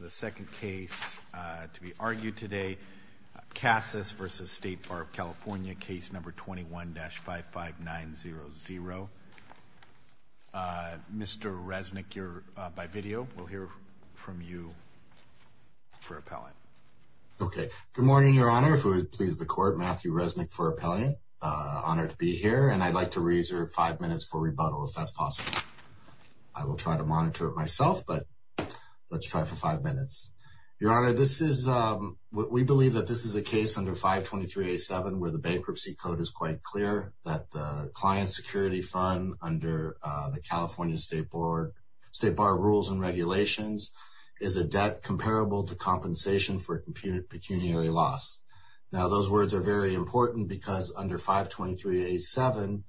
The second case to be argued today, Kassas v. State Bar of California, Case No. 21-55900. Mr. Resnick, you're by video. We'll hear from you for appellant. Okay. Good morning, Your Honor. If it would please the Court, Matthew Resnick for appellant. Honored to be here, and I'd like to reserve five minutes for rebuttal, if that's possible. I will try to monitor it myself, but let's try for five minutes. Your Honor, we believe that this is a case under 523A7, where the bankruptcy code is quite clear, that the client security fund under the California State Bar of Rules and Regulations is a debt comparable to compensation for pecuniary loss. Now, those words are very important because under 523A7,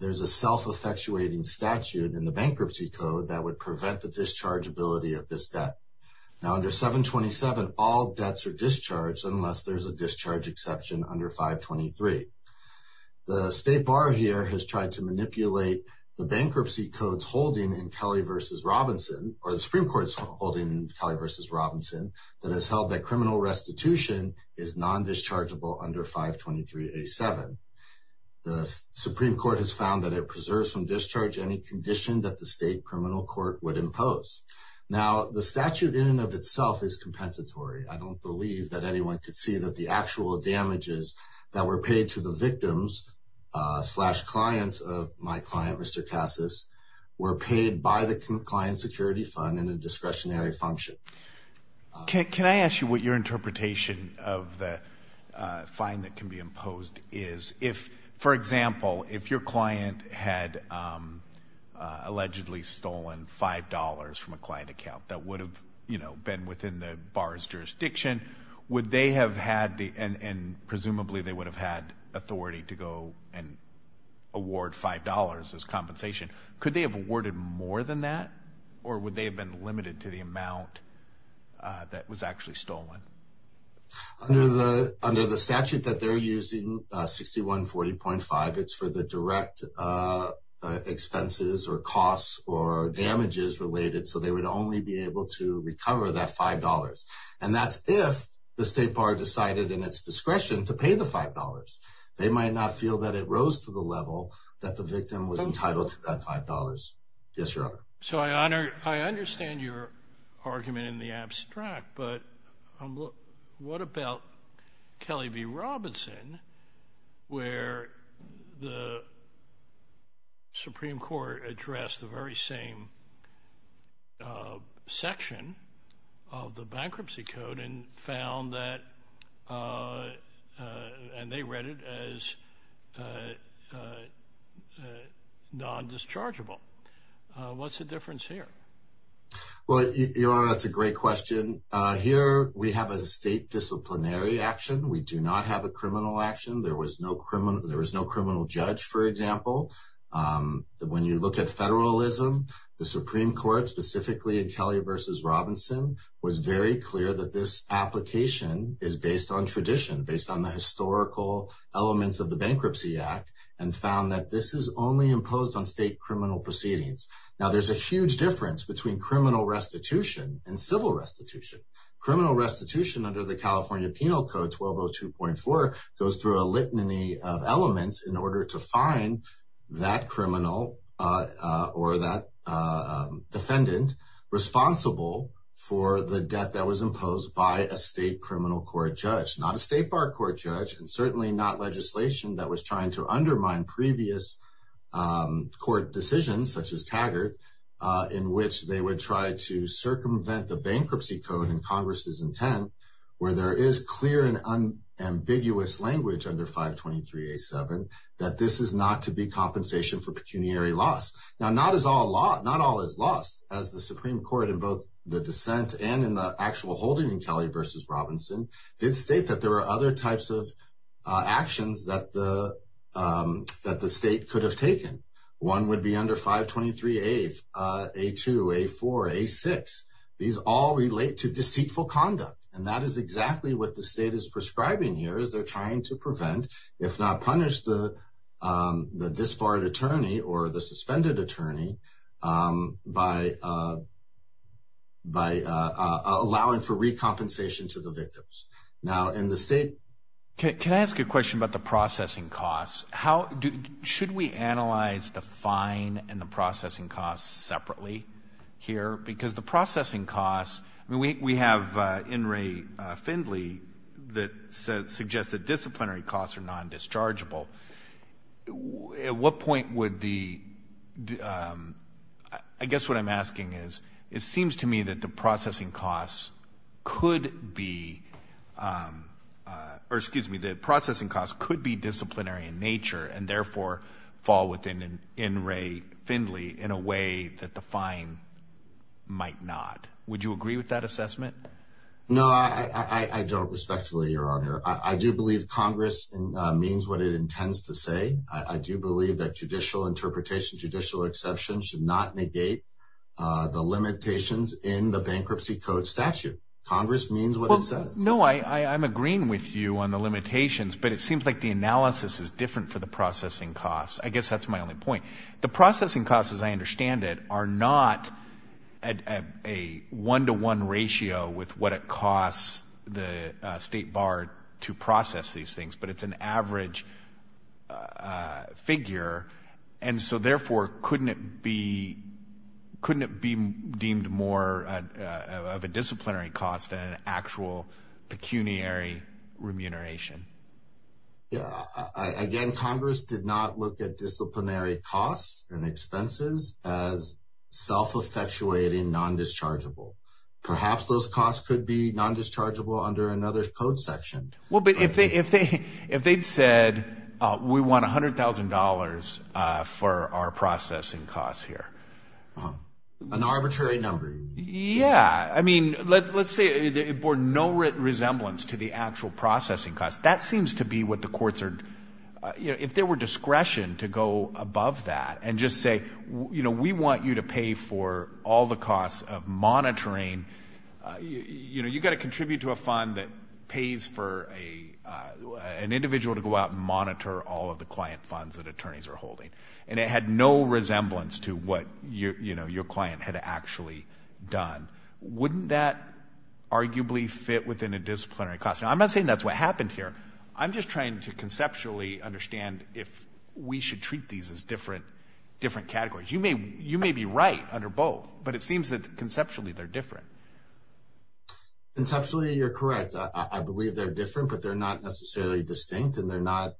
there's a self-effectuating statute in the bankruptcy code that would prevent the dischargeability of this debt. Now, under 727, all debts are discharged unless there's a discharge exception under 523. The State Bar here has tried to manipulate the bankruptcy code's holding in Kelly v. Robinson, or the Supreme Court's holding in Kelly v. Robinson, that has held that criminal restitution is non-dischargeable under 523A7. The Supreme Court has found that it preserves from discharge any condition that the state criminal court would impose. Now, the statute in and of itself is compensatory. I don't believe that anyone could see that the actual damages that were paid to the victims slash clients of my client, Mr. Casas, were paid by the client security fund in a discretionary function. Can I ask you what your interpretation of the fine that can be imposed is? For example, if your client had allegedly stolen $5 from a client account that would have been within the bar's jurisdiction, would they have had the and presumably they would have had authority to go and award $5 as compensation. Could they have awarded more than that, or would they have been limited to the amount that was actually stolen? Under the statute that they're using, 6140.5, it's for the direct expenses or costs or damages related, so they would only be able to recover that $5. And that's if the state bar decided in its discretion to pay the $5. They might not feel that it rose to the level that the victim was entitled to that $5. Yes, Your Honor. So I understand your argument in the abstract, but what about Kelly v. Robinson, where the Supreme Court addressed the very same section of the bankruptcy code and found that, and they read it as non-dischargeable. What's the difference here? Well, Your Honor, that's a great question. Here we have a state disciplinary action. We do not have a criminal action. There was no criminal judge, for example. When you look at federalism, the Supreme Court, specifically in Kelly v. Robinson, was very clear that this application is based on tradition, based on the historical elements of the Bankruptcy Act, and found that this is only imposed on state criminal proceedings. Now, there's a huge difference between criminal restitution and civil restitution. Criminal restitution under the California Penal Code 1202.4 goes through a litany of elements in order to find that criminal or that defendant responsible for the debt that was imposed by a state criminal court judge, not a state bar court judge, and certainly not legislation that was trying to undermine previous court decisions, such as Taggart, in which they would try to circumvent the bankruptcy code in Congress's intent, where there is clear and unambiguous language under 523.87 that this is not to be compensation for pecuniary loss. Now, not all is lost, as the Supreme Court in both the dissent and in the actual holding in Kelly v. Robinson did state that there are other types of actions that the state could have taken. One would be under 523.82, 523.84, 523.86. These all relate to deceitful conduct, and that is exactly what the state is prescribing here, as they're trying to prevent, if not punish, the disbarred attorney or the suspended attorney by allowing for recompensation to the victims. Now, in the state… Can I ask a question about the processing costs? Should we analyze the fine and the processing costs separately here? Because the processing costs… I mean, we have In re Findley that suggests that disciplinary costs are non-dischargeable. At what point would the… I guess what I'm asking is, it seems to me that the processing costs could be disciplinary in nature and therefore fall within In re Findley in a way that the fine might not. Would you agree with that assessment? No, I don't, respectfully, Your Honor. I do believe Congress means what it intends to say. I do believe that judicial interpretation, judicial exception, should not negate the limitations in the Bankruptcy Code statute. Congress means what it says. No, I'm agreeing with you on the limitations, but it seems like the analysis is different for the processing costs. I guess that's my only point. The processing costs, as I understand it, are not a one-to-one ratio with what it costs the state bar to process these things, but it's an average figure. And so, therefore, couldn't it be deemed more of a disciplinary cost than an actual pecuniary remuneration? Again, Congress did not look at disciplinary costs and expenses as self-effectuating, non-dischargeable. Perhaps those costs could be non-dischargeable under another code section. Well, but if they'd said, we want $100,000 for our processing costs here. An arbitrary number. Yeah, I mean, let's say it bore no resemblance to the actual processing costs. That seems to be what the courts are, you know, if there were discretion to go above that and just say, you know, we want you to pay for all the costs of monitoring. You know, you've got to contribute to a fund that pays for an individual to go out and monitor all of the client funds that attorneys are holding. And it had no resemblance to what, you know, your client had actually done. Wouldn't that arguably fit within a disciplinary cost? Now, I'm not saying that's what happened here. I'm just trying to conceptually understand if we should treat these as different categories. You may be right under both, but it seems that conceptually they're different. Conceptually, you're correct. I believe they're different, but they're not necessarily distinct and they're not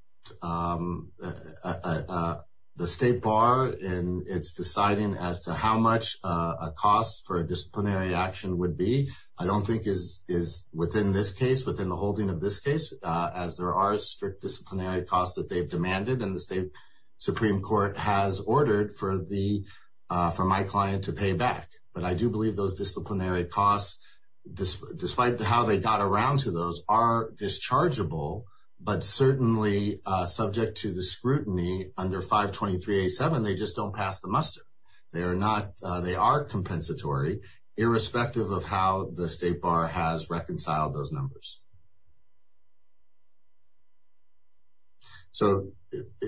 the state bar in its deciding as to how much a cost for a disciplinary action would be. I don't think is within this case, within the holding of this case, as there are strict disciplinary costs that they've demanded and the state Supreme Court has ordered for my client to pay back. But I do believe those disciplinary costs, despite how they got around to those, are dischargeable, but certainly subject to the scrutiny under 523-87, they just don't pass the muster. They are compensatory, irrespective of how the state bar has reconciled those numbers. So,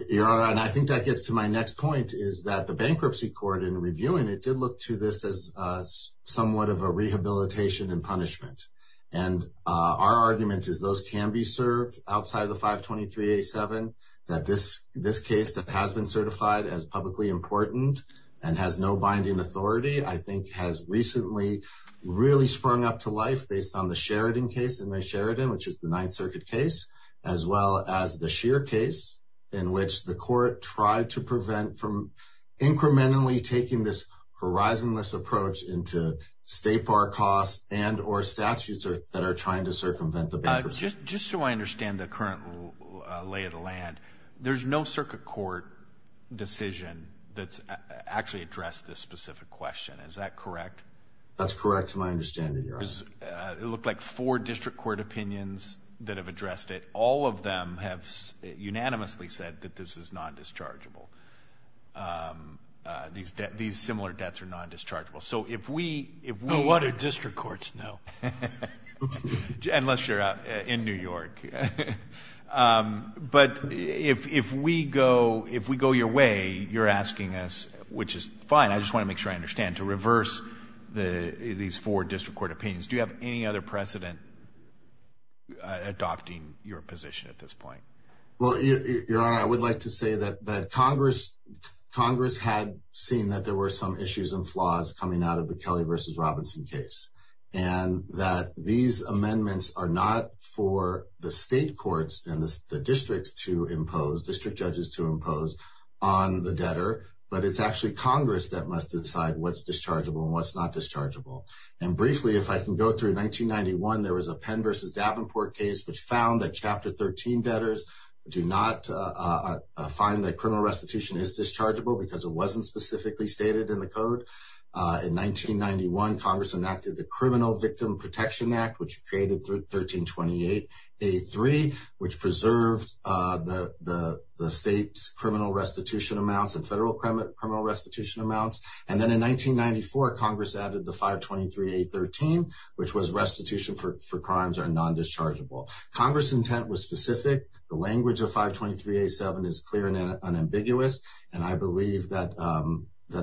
Your Honor, and I think that gets to my next point, is that the bankruptcy court, in reviewing it, did look to this as somewhat of a rehabilitation and punishment. And our argument is those can be served outside of the 523-87, that this case that has been certified as publicly important and has no binding authority, I think has recently really sprung up to life based on the Sheridan case, in Ray Sheridan, which is the Ninth Circuit case, as well as the Scheer case, in which the court tried to prevent from incrementally taking this horizonless approach into state bar costs and or statutes that are trying to circumvent the bankruptcy. Just so I understand the current lay of the land, there's no circuit court decision that's actually addressed this specific question. Is that correct? That's correct to my understanding, Your Honor. It looked like four district court opinions that have addressed it. All of them have unanimously said that this is non-dischargeable. These similar debts are non-dischargeable. So if we... Well, what do district courts know? Unless you're in New York. But if we go your way, you're asking us, which is fine. I just want to make sure I understand. To reverse these four district court opinions, do you have any other precedent adopting your position at this point? Well, Your Honor, I would like to say that Congress had seen that there were some issues and flaws coming out of the Kelly v. Robinson case. And that these amendments are not for the state courts and the districts to impose, district judges to impose on the debtor, but it's actually Congress that must decide what's dischargeable and what's not dischargeable. And briefly, if I can go through 1991, there was a Penn v. Davenport case, which found that Chapter 13 debtors do not find that criminal restitution is dischargeable because it wasn't specifically stated in the code. In 1991, Congress enacted the Criminal Victim Protection Act, which created 1328A3, which preserved the state's criminal restitution amounts and federal criminal restitution amounts. And then in 1994, Congress added the 523A13, which was restitution for crimes are non-dischargeable. Congress' intent was specific. The language of 523A7 is clear and unambiguous. And I believe that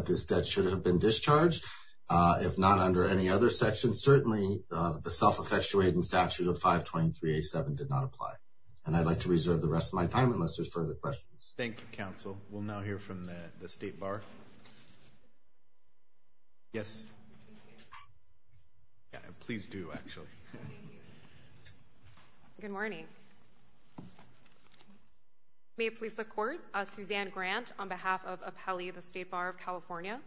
this debt should have been discharged, if not under any other section. Certainly, the self-effectuating statute of 523A7 did not apply. And I'd like to reserve the rest of my time unless there's further questions. Thank you, counsel. We'll now hear from the State Bar. Yes. Please do, actually. Good morning. May it please the Court. Suzanne Grant on behalf of Apelli, the State Bar of California.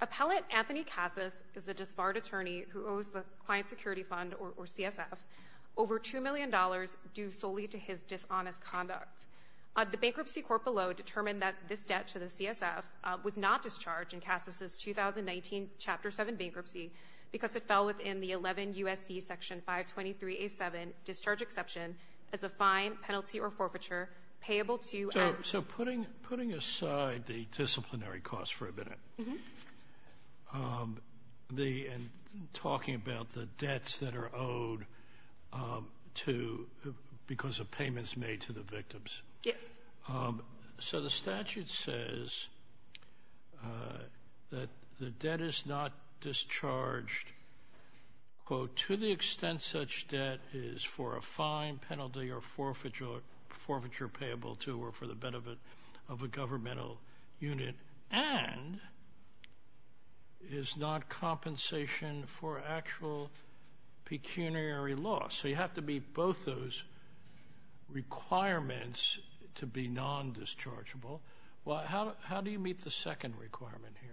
Appellant Anthony Cassis is a disbarred attorney who owes the Client Security Fund, or CSF, over $2 million due solely to his dishonest conduct. The bankruptcy court below determined that this debt to the CSF was not discharged in Cassis' 2019 Chapter 7 bankruptcy because it fell within the 11 U.S.C. Section 523A7 discharge exception as a fine, penalty, or forfeiture payable to So putting aside the disciplinary costs for a minute and talking about the debts that are owed to because of payments made to the victims. Yes. So the statute says that the debt is not discharged, quote, to the extent such debt is for a fine, penalty, or forfeiture payable to or for the benefit of a governmental unit and is not compensation for actual pecuniary loss. So you have to meet both those requirements to be non-dischargeable. Well, how do you meet the second requirement here?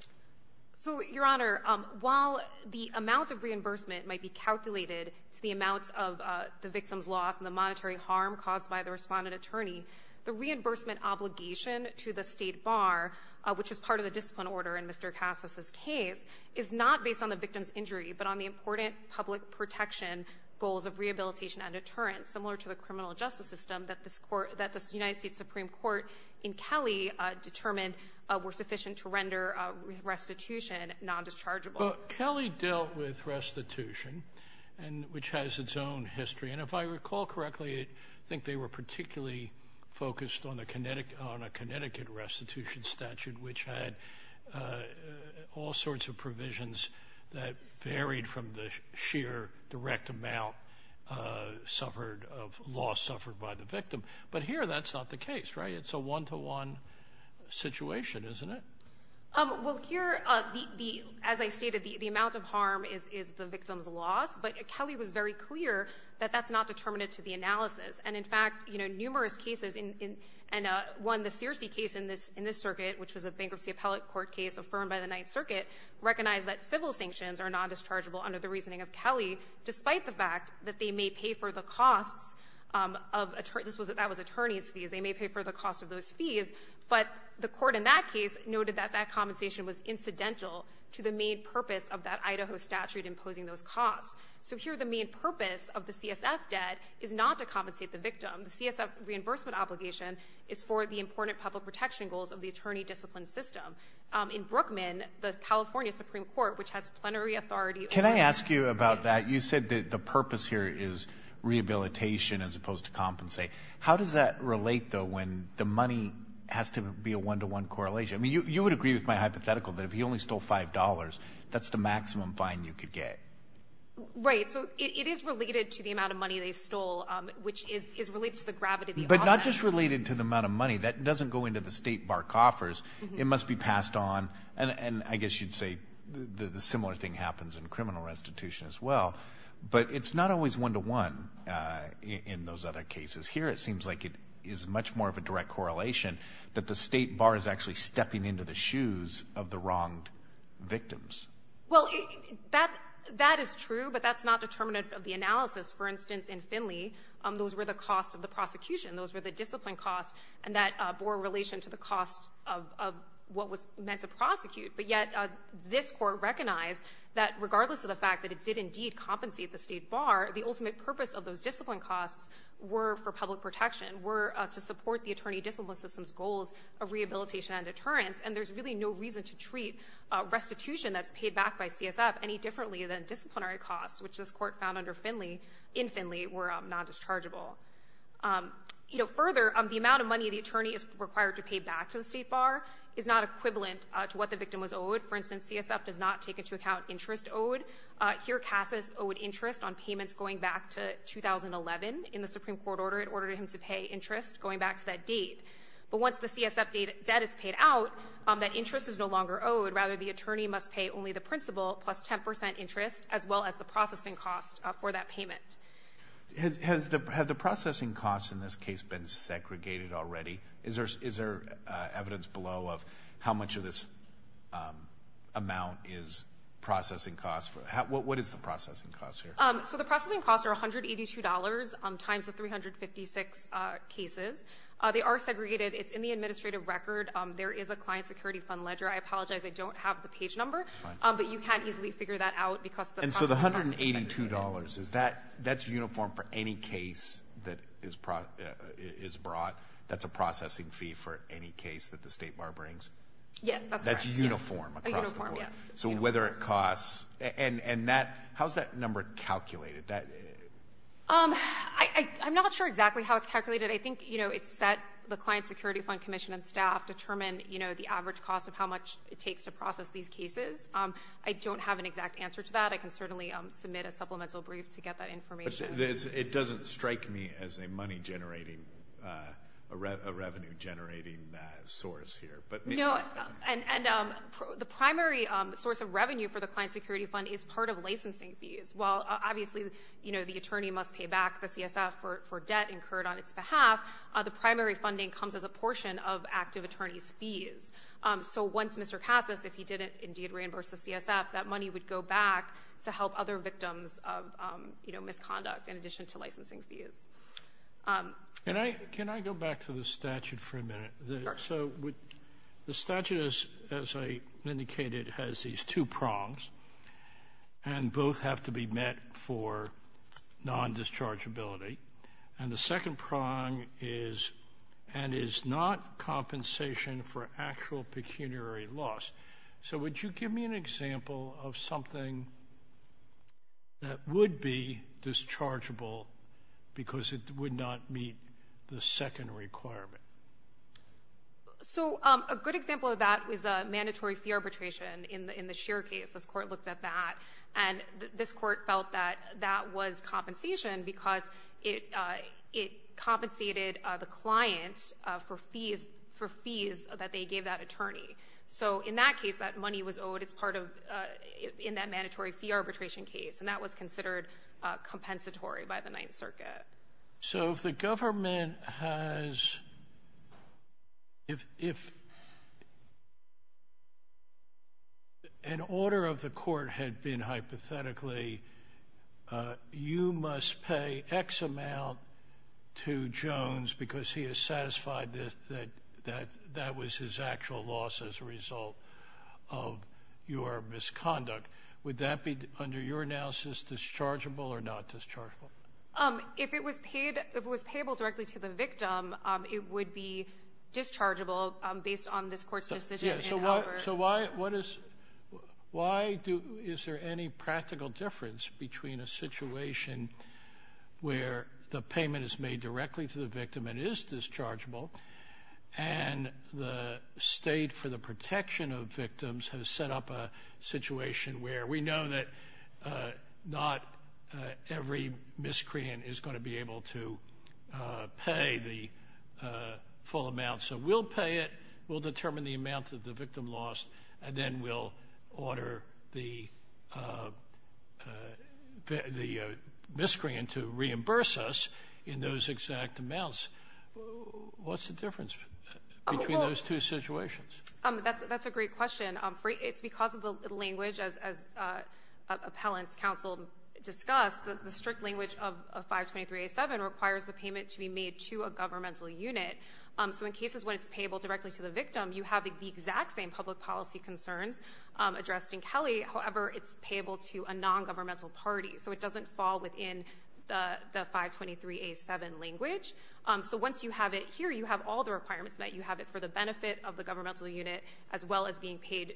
So, Your Honor, while the amount of reimbursement might be calculated to the amount of the victim's loss and the monetary harm caused by the respondent attorney, the reimbursement obligation to the State Bar, which is part of the discipline order in Mr. Cassis' case, is not based on the victim's injury but on the important public protection goals of rehabilitation and deterrence, similar to the criminal justice system that the United States Supreme Court in Kelly determined were sufficient to render restitution non-dischargeable. Well, Kelly dealt with restitution, which has its own history. And if I recall correctly, I think they were particularly focused on a Connecticut restitution statute, which had all sorts of provisions that varied from the sheer direct amount suffered of loss suffered by the victim. But here that's not the case, right? It's a one-to-one situation, isn't it? Well, here, as I stated, the amount of harm is the victim's loss, but Kelly was very clear that that's not determinate to the analysis. And in fact, you know, numerous cases, and one, the Searcy case in this circuit, which was a bankruptcy appellate court case affirmed by the Ninth Circuit, recognized that civil sanctions are non-dischargeable under the reasoning of Kelly, despite the fact that they may pay for the costs of attorneys' fees. They may pay for the cost of those fees, but the court in that case noted that that compensation was incidental to the main purpose of that Idaho statute imposing those costs. So here the main purpose of the CSF debt is not to compensate the victim. The CSF reimbursement obligation is for the important public protection goals of the attorney discipline system. In Brookman, the California Supreme Court, which has plenary authority over that. Can I ask you about that? You said that the purpose here is rehabilitation as opposed to compensate. How does that relate, though, when the money has to be a one-to-one correlation? I mean, you would agree with my hypothetical that if he only stole $5, that's the maximum fine you could get. Right. So it is related to the amount of money they stole, which is related to the gravity of the offense. But not just related to the amount of money. That doesn't go into the state bar coffers. It must be passed on. And I guess you'd say the similar thing happens in criminal restitution as well. But it's not always one-to-one in those other cases. Here it seems like it is much more of a direct correlation, that the state bar is actually stepping into the shoes of the wronged victims. Well, that is true, but that's not determinative of the analysis. For instance, in Finley, those were the costs of the prosecution. Those were the discipline costs, and that bore relation to the cost of what was meant to prosecute. But yet this Court recognized that regardless of the fact that it did indeed compensate the state bar, the ultimate purpose of those discipline costs were for public protection, were to support the attorney discipline system's goals of rehabilitation and deterrence. And there's really no reason to treat restitution that's paid back by CSF any differently than disciplinary costs, which this Court found under Finley, in Finley, were non-dischargeable. You know, further, the amount of money the attorney is required to pay back to the state bar is not equivalent to what the victim was owed. For instance, CSF does not take into account interest owed. Here Cassis owed interest on payments going back to 2011 in the Supreme Court order. It ordered him to pay interest going back to that date. But once the CSF debt is paid out, that interest is no longer owed. Rather, the attorney must pay only the principal plus 10 percent interest, as well as the processing cost for that payment. Has the processing cost in this case been segregated already? Is there evidence below of how much of this amount is processing cost? What is the processing cost here? So the processing costs are $182 times the 356 cases. They are segregated. It's in the administrative record. There is a client security fund ledger. I apologize, I don't have the page number. But you can easily figure that out because the processing costs are segregated. And so the $182, that's uniform for any case that is brought? That's a processing fee for any case that the state bar brings? Yes, that's correct. That's uniform across the board? Uniform, yes. So whether it costs? And how is that number calculated? I'm not sure exactly how it's calculated. I think, you know, it's set, the client security fund commission and staff determine, you know, the average cost of how much it takes to process these cases. I don't have an exact answer to that. I can certainly submit a supplemental brief to get that information. It doesn't strike me as a money generating, a revenue generating source here. No, and the primary source of revenue for the client security fund is part of licensing fees. While obviously, you know, the attorney must pay back the CSF for debt incurred on its behalf, the primary funding comes as a portion of active attorney's fees. So once Mr. Cassis, if he didn't indeed reimburse the CSF, that money would go back to help other victims of, you know, misconduct in addition to licensing fees. Can I go back to the statute for a minute? Sure. So the statute, as I indicated, has these two prongs, and both have to be met for non-dischargeability. And the second prong is and is not compensation for actual pecuniary loss. So would you give me an example of something that would be dischargeable because it would not meet the second requirement? So a good example of that is mandatory fee arbitration in the Scheer case. This court looked at that, and this court felt that that was compensation because it compensated the client for fees that they gave that attorney. So in that case, that money was owed as part of in that mandatory fee arbitration case, and that was considered compensatory by the Ninth Circuit. So if the government has, if an order of the court had been hypothetically, you must pay X amount to Jones because he is satisfied that that was his actual loss as a result of your misconduct. Would that be, under your analysis, dischargeable or not dischargeable? If it was paid, if it was payable directly to the victim, it would be dischargeable based on this court's decision in Albert. So why, what is, why do, is there any practical difference between a situation where the payment is made directly to the victim and is dischargeable, and the state for the protection of victims has set up a situation where we know that not every miscreant is going to be able to pay the full amount. So we'll pay it. We'll determine the amount that the victim lost, and then we'll order the miscreant to reimburse us in those exact amounts. What's the difference between those two situations? That's a great question. It's because of the language, as appellants counsel discussed, the strict language of 523A7 requires the payment to be made to a governmental unit. So in cases when it's payable directly to the victim, you have the exact same public policy concerns addressed in Kelly. However, it's payable to a nongovernmental party. So it doesn't fall within the 523A7 language. So once you have it here, you have all the requirements met. You have it for the benefit of the governmental unit as well as being paid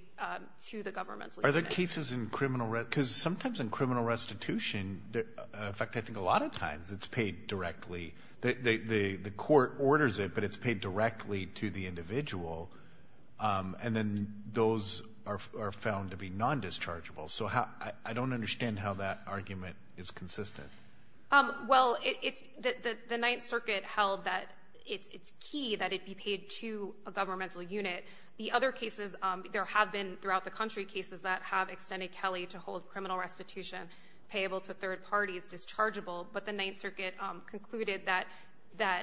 to the governmental unit. Are there cases in criminal restitution, because sometimes in criminal restitution, in fact I think a lot of times it's paid directly. The court orders it, but it's paid directly to the individual, and then those are found to be nondischargeable. So I don't understand how that argument is consistent. Well, the Ninth Circuit held that it's key that it be paid to a governmental unit. The other cases, there have been throughout the country cases that have extended Kelly to hold criminal restitution payable to third parties dischargeable, but the Ninth Circuit concluded that,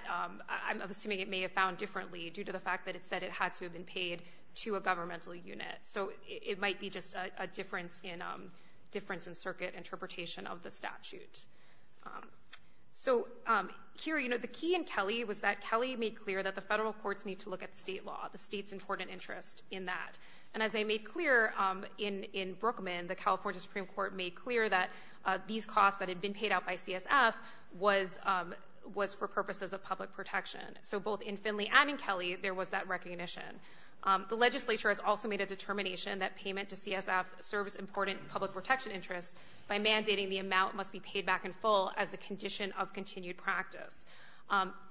I'm assuming it may have found differently due to the fact that it said it had to have been paid to a governmental unit. So it might be just a difference in circuit interpretation of the statute. So here, you know, the key in Kelly was that Kelly made clear that the federal courts need to look at the state law, the state's important interest in that. And as they made clear in Brookman, the California Supreme Court made clear that these costs that had been paid out by CSF was for purposes of public protection. So both in Finley and in Kelly, there was that recognition. The legislature has also made a determination that payment to CSF serves important public protection interests by mandating the amount must be paid back in full as a condition of continued practice.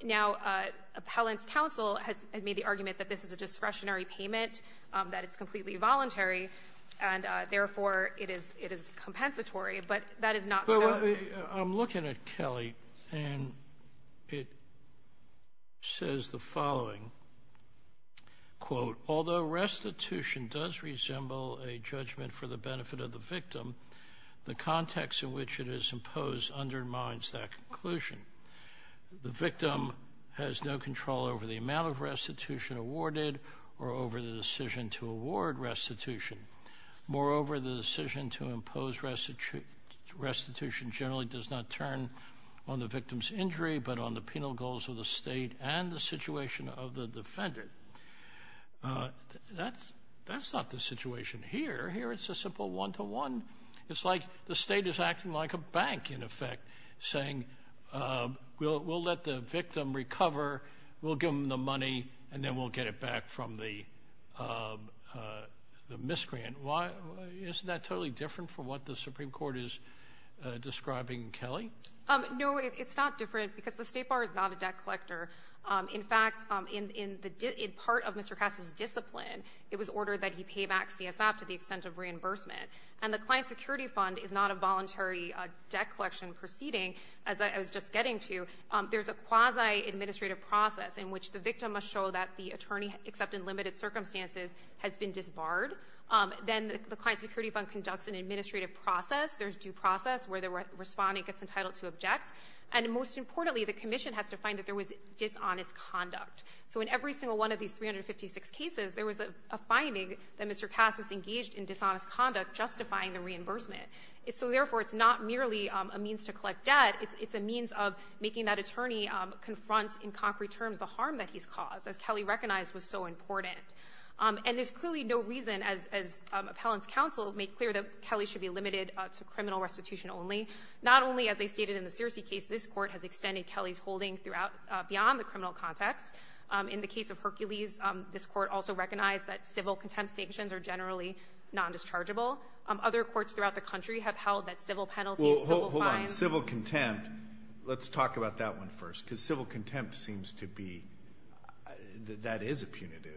Now, Appellant's counsel has made the argument that this is a discretionary payment, that it's completely voluntary, and therefore it is compensatory, but that is not so. I'm looking at Kelly, and it says the following, quote, although restitution does resemble a judgment for the benefit of the victim, the context in which it is imposed undermines that conclusion. The victim has no control over the amount of restitution awarded or over the decision to award restitution. Moreover, the decision to impose restitution generally does not turn on the victim's injury but on the penal goals of the state and the situation of the defendant. That's not the situation here. Here it's a simple one-to-one. It's like the state is acting like a bank, in effect, saying we'll let the victim recover, we'll give them the money, and then we'll get it back from the misgrant. Isn't that totally different from what the Supreme Court is describing in Kelly? No, it's not different because the State Bar is not a debt collector. In fact, in part of Mr. Cass's discipline, it was ordered that he pay back CSF to the extent of reimbursement, and the Client Security Fund is not a voluntary debt collection proceeding, as I was just getting to. There's a quasi-administrative process in which the victim must show that the attorney, except in limited circumstances, has been disbarred. Then the Client Security Fund conducts an administrative process. There's due process where the respondent gets entitled to object. And most importantly, the commission has to find that there was dishonest conduct. So in every single one of these 356 cases, there was a finding that Mr. Cass was engaged in dishonest conduct justifying the reimbursement. So therefore, it's not merely a means to collect debt. It's a means of making that attorney confront in concrete terms the harm that he's caused, as Kelly recognized was so important. And there's clearly no reason, as Appellant's counsel made clear, that Kelly should be limited to criminal restitution only. Not only, as they stated in the Searcy case, this Court has extended Kelly's holding throughout beyond the criminal context. In the case of Hercules, this Court also recognized that civil contempt sanctions are generally non-dischargeable. Other courts throughout the country have held that civil penalties, civil fines. But civil contempt, let's talk about that one first. Because civil contempt seems to be, that is a punitive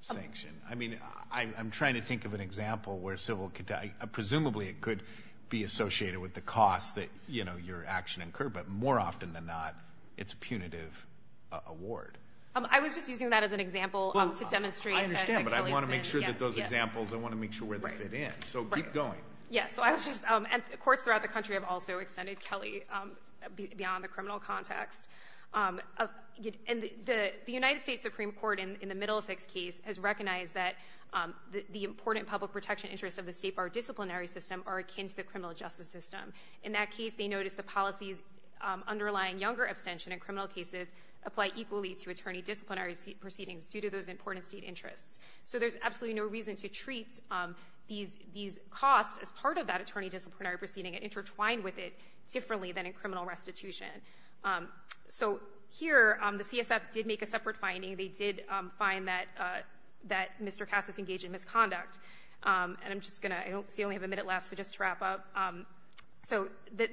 sanction. I mean, I'm trying to think of an example where civil contempt, presumably it could be associated with the cost that, you know, your action incurred. But more often than not, it's a punitive award. I was just using that as an example to demonstrate. I understand, but I want to make sure that those examples, I want to make sure where they fit in. So keep going. Yes, so I was just, and courts throughout the country have also extended Kelly beyond the criminal context. And the United States Supreme Court, in the Middlesex case, has recognized that the important public protection interests of the state bar disciplinary system are akin to the criminal justice system. In that case, they noticed the policies underlying younger abstention in criminal cases apply equally to attorney disciplinary proceedings due to those important state interests. So there's absolutely no reason to treat these costs as part of that attorney disciplinary proceeding and intertwine with it differently than in criminal restitution. So here, the CSF did make a separate finding. They did find that Mr. Cass is engaged in misconduct. And I'm just going to, I see I only have a minute left, so just to wrap up. So here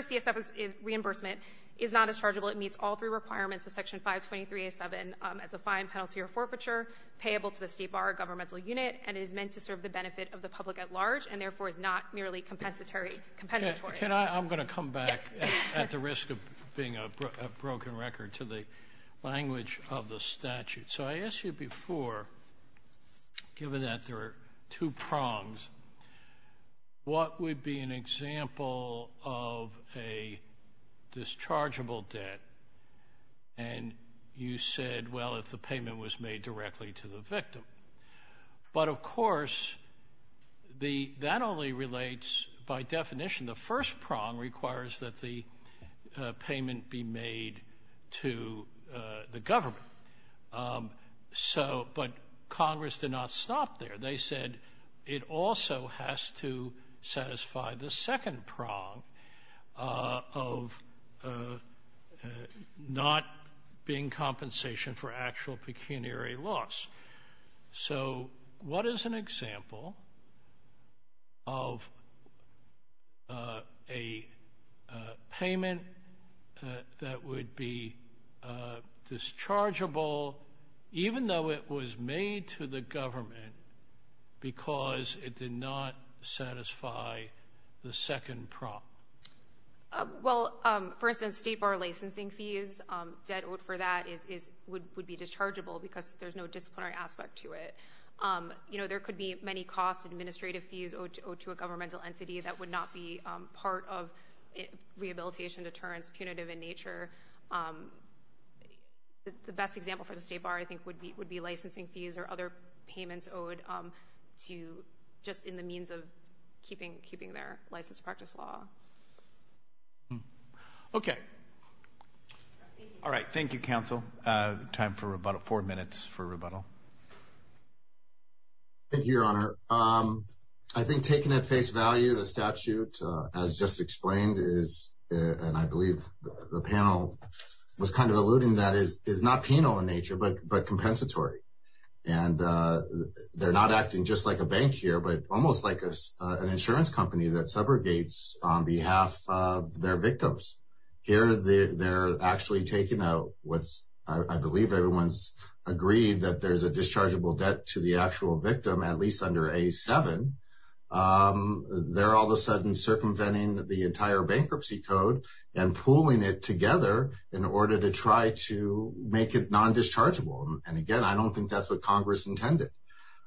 CSF's reimbursement is not as chargeable. It meets all three requirements of Section 523A7 as a fine, penalty, or forfeiture, payable to the state bar governmental unit, and is meant to serve the benefit of the public at large, and therefore is not merely compensatory. I'm going to come back at the risk of being a broken record to the language of the statute. So I asked you before, given that there are two prongs, what would be an example of a dischargeable debt? And you said, well, if the payment was made directly to the victim. But, of course, that only relates, by definition, the first prong requires that the payment be made to the government. So, but Congress did not stop there. They said it also has to satisfy the second prong of the not being compensation for actual pecuniary loss. So what is an example of a payment that would be dischargeable, even though it was made to the government because it did not satisfy the second prong? Well, for instance, state bar licensing fees, debt owed for that would be dischargeable because there's no disciplinary aspect to it. You know, there could be many costs, administrative fees owed to a governmental entity that would not be part of rehabilitation, deterrence, punitive in nature. The best example for the state bar, I think, would be licensing fees or other payments owed to just in the means of keeping their licensed practice law. Okay. All right. Thank you, counsel. Time for rebuttal. Four minutes for rebuttal. Thank you, Your Honor. I think taking at face value the statute as just explained is, and I believe the panel was kind of alluding that, is not penal in nature, but compensatory. And they're not acting just like a bank here, but almost like an insurance company that subrogates on behalf of their victims. Here they're actually taking out what's I believe everyone's agreed that there's a dischargeable debt to the actual victim, at least under a seven. They're all of a sudden circumventing the entire bankruptcy code and pooling it together in order to try to make it non-dischargeable. And again, I don't think that's what Congress intended.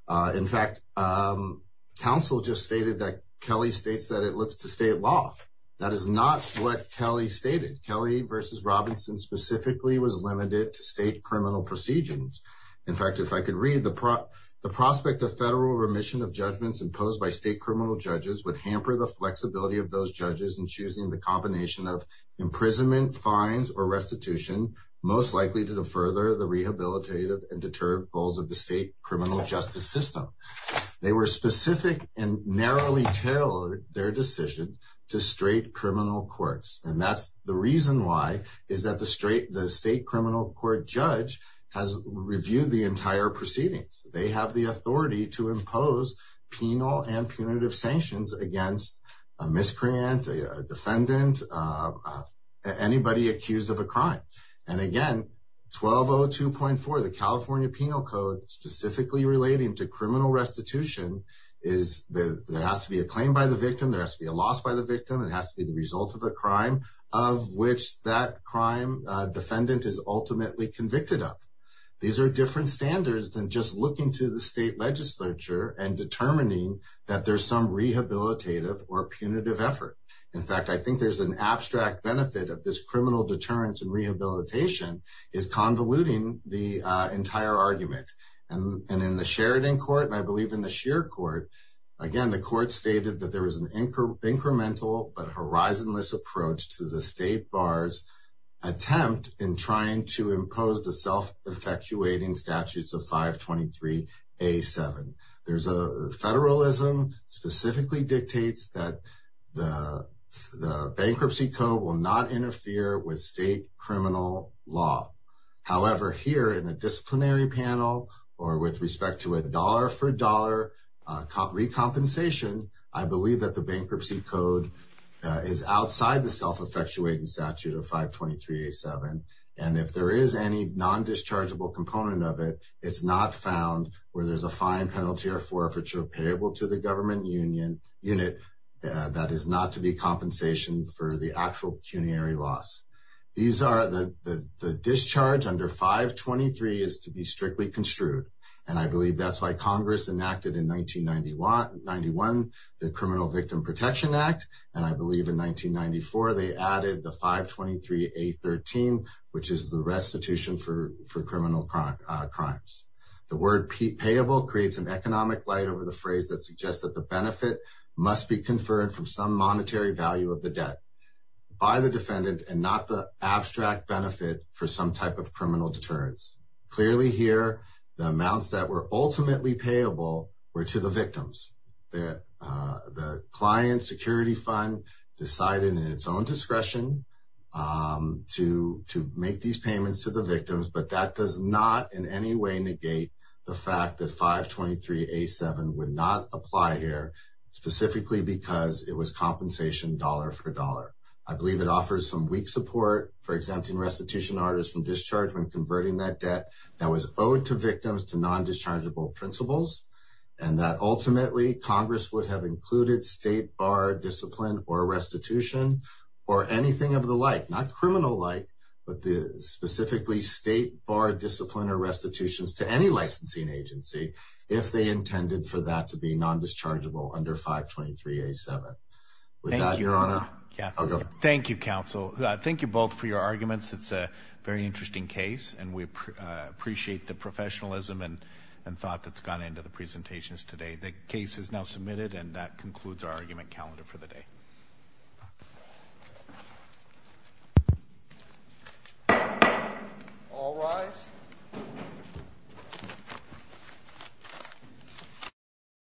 In fact, counsel just stated that Kelly states that it looks to state law. That is not what Kelly stated. Kelly versus Robinson specifically was limited to state criminal procedures. In fact, if I could read the prop, the prospect of federal remission of judgments imposed by state criminal judges would hamper the flexibility of those judges and choosing the combination of imprisonment fines or restitution, most likely to the further the rehabilitative and deterred goals of the state criminal justice system. They were specific and narrowly tailored their decision to straight criminal courts. And that's the reason why is that the straight, the state criminal court judge has reviewed the entire proceedings. They have the authority to impose penal and punitive sanctions against a miscreant, a defendant, anybody accused of a crime. And again, 1202.4, the California penal code specifically relating to criminal restitution is the, there has to be a claim by the victim. There has to be a loss by the victim. It has to be the result of the crime of which that crime defendant is ultimately convicted of. These are different standards than just looking to the state legislature and determining that there's some rehabilitative or punitive effort. In fact, I think there's an abstract benefit of this criminal deterrence and rehabilitation is convoluting the entire argument. And in the Sheridan court, and I believe in the sheer court, again, the court stated that there was an anchor incremental, but horizonless approach to the state bars attempt in trying to impose the self-effectuating statutes of five 23, a seven. There's a federalism specifically dictates that the bankruptcy code will not be subject to the penal law. However, here in a disciplinary panel or with respect to a dollar for dollar compensation, I believe that the bankruptcy code is outside the self-effectuating statute of five 23, a seven. And if there is any non-dischargeable component of it, it's not found where there's a fine penalty or forfeiture payable to the government union unit. That is not to be compensation for the actual pecuniary loss. These are the discharge under five 23 is to be strictly construed. And I believe that's why Congress enacted in 1991, the criminal victim protection act. And I believe in 1994, they added the five 23, a 13, which is the restitution for criminal crime crimes. The word payable creates an economic light over the phrase that suggests that the benefit must be conferred from some monetary value of the debt by the government. And that's not the abstract benefit for some type of criminal deterrence. Clearly here, the amounts that were ultimately payable were to the victims. The, the client security fund decided in its own discretion to, to make these payments to the victims, but that does not in any way negate the fact that five 23, a seven would not apply here specifically because it was compensation dollar for dollar. I believe it offers some weak support for exempting restitution artists from discharge when converting that debt that was owed to victims, to non-dischargeable principles. And that ultimately Congress would have included state bar discipline or restitution or anything of the light, not criminal light, but the specifically state bar discipline or restitutions to any licensing agency. If they intended for that to be non-dischargeable under five 23, a seven without your honor. Thank you counsel. Thank you both for your arguments. It's a very interesting case and we appreciate the professionalism and, and thought that's gone into the presentations today. The case is now submitted and that concludes our argument calendar for the day. All rise.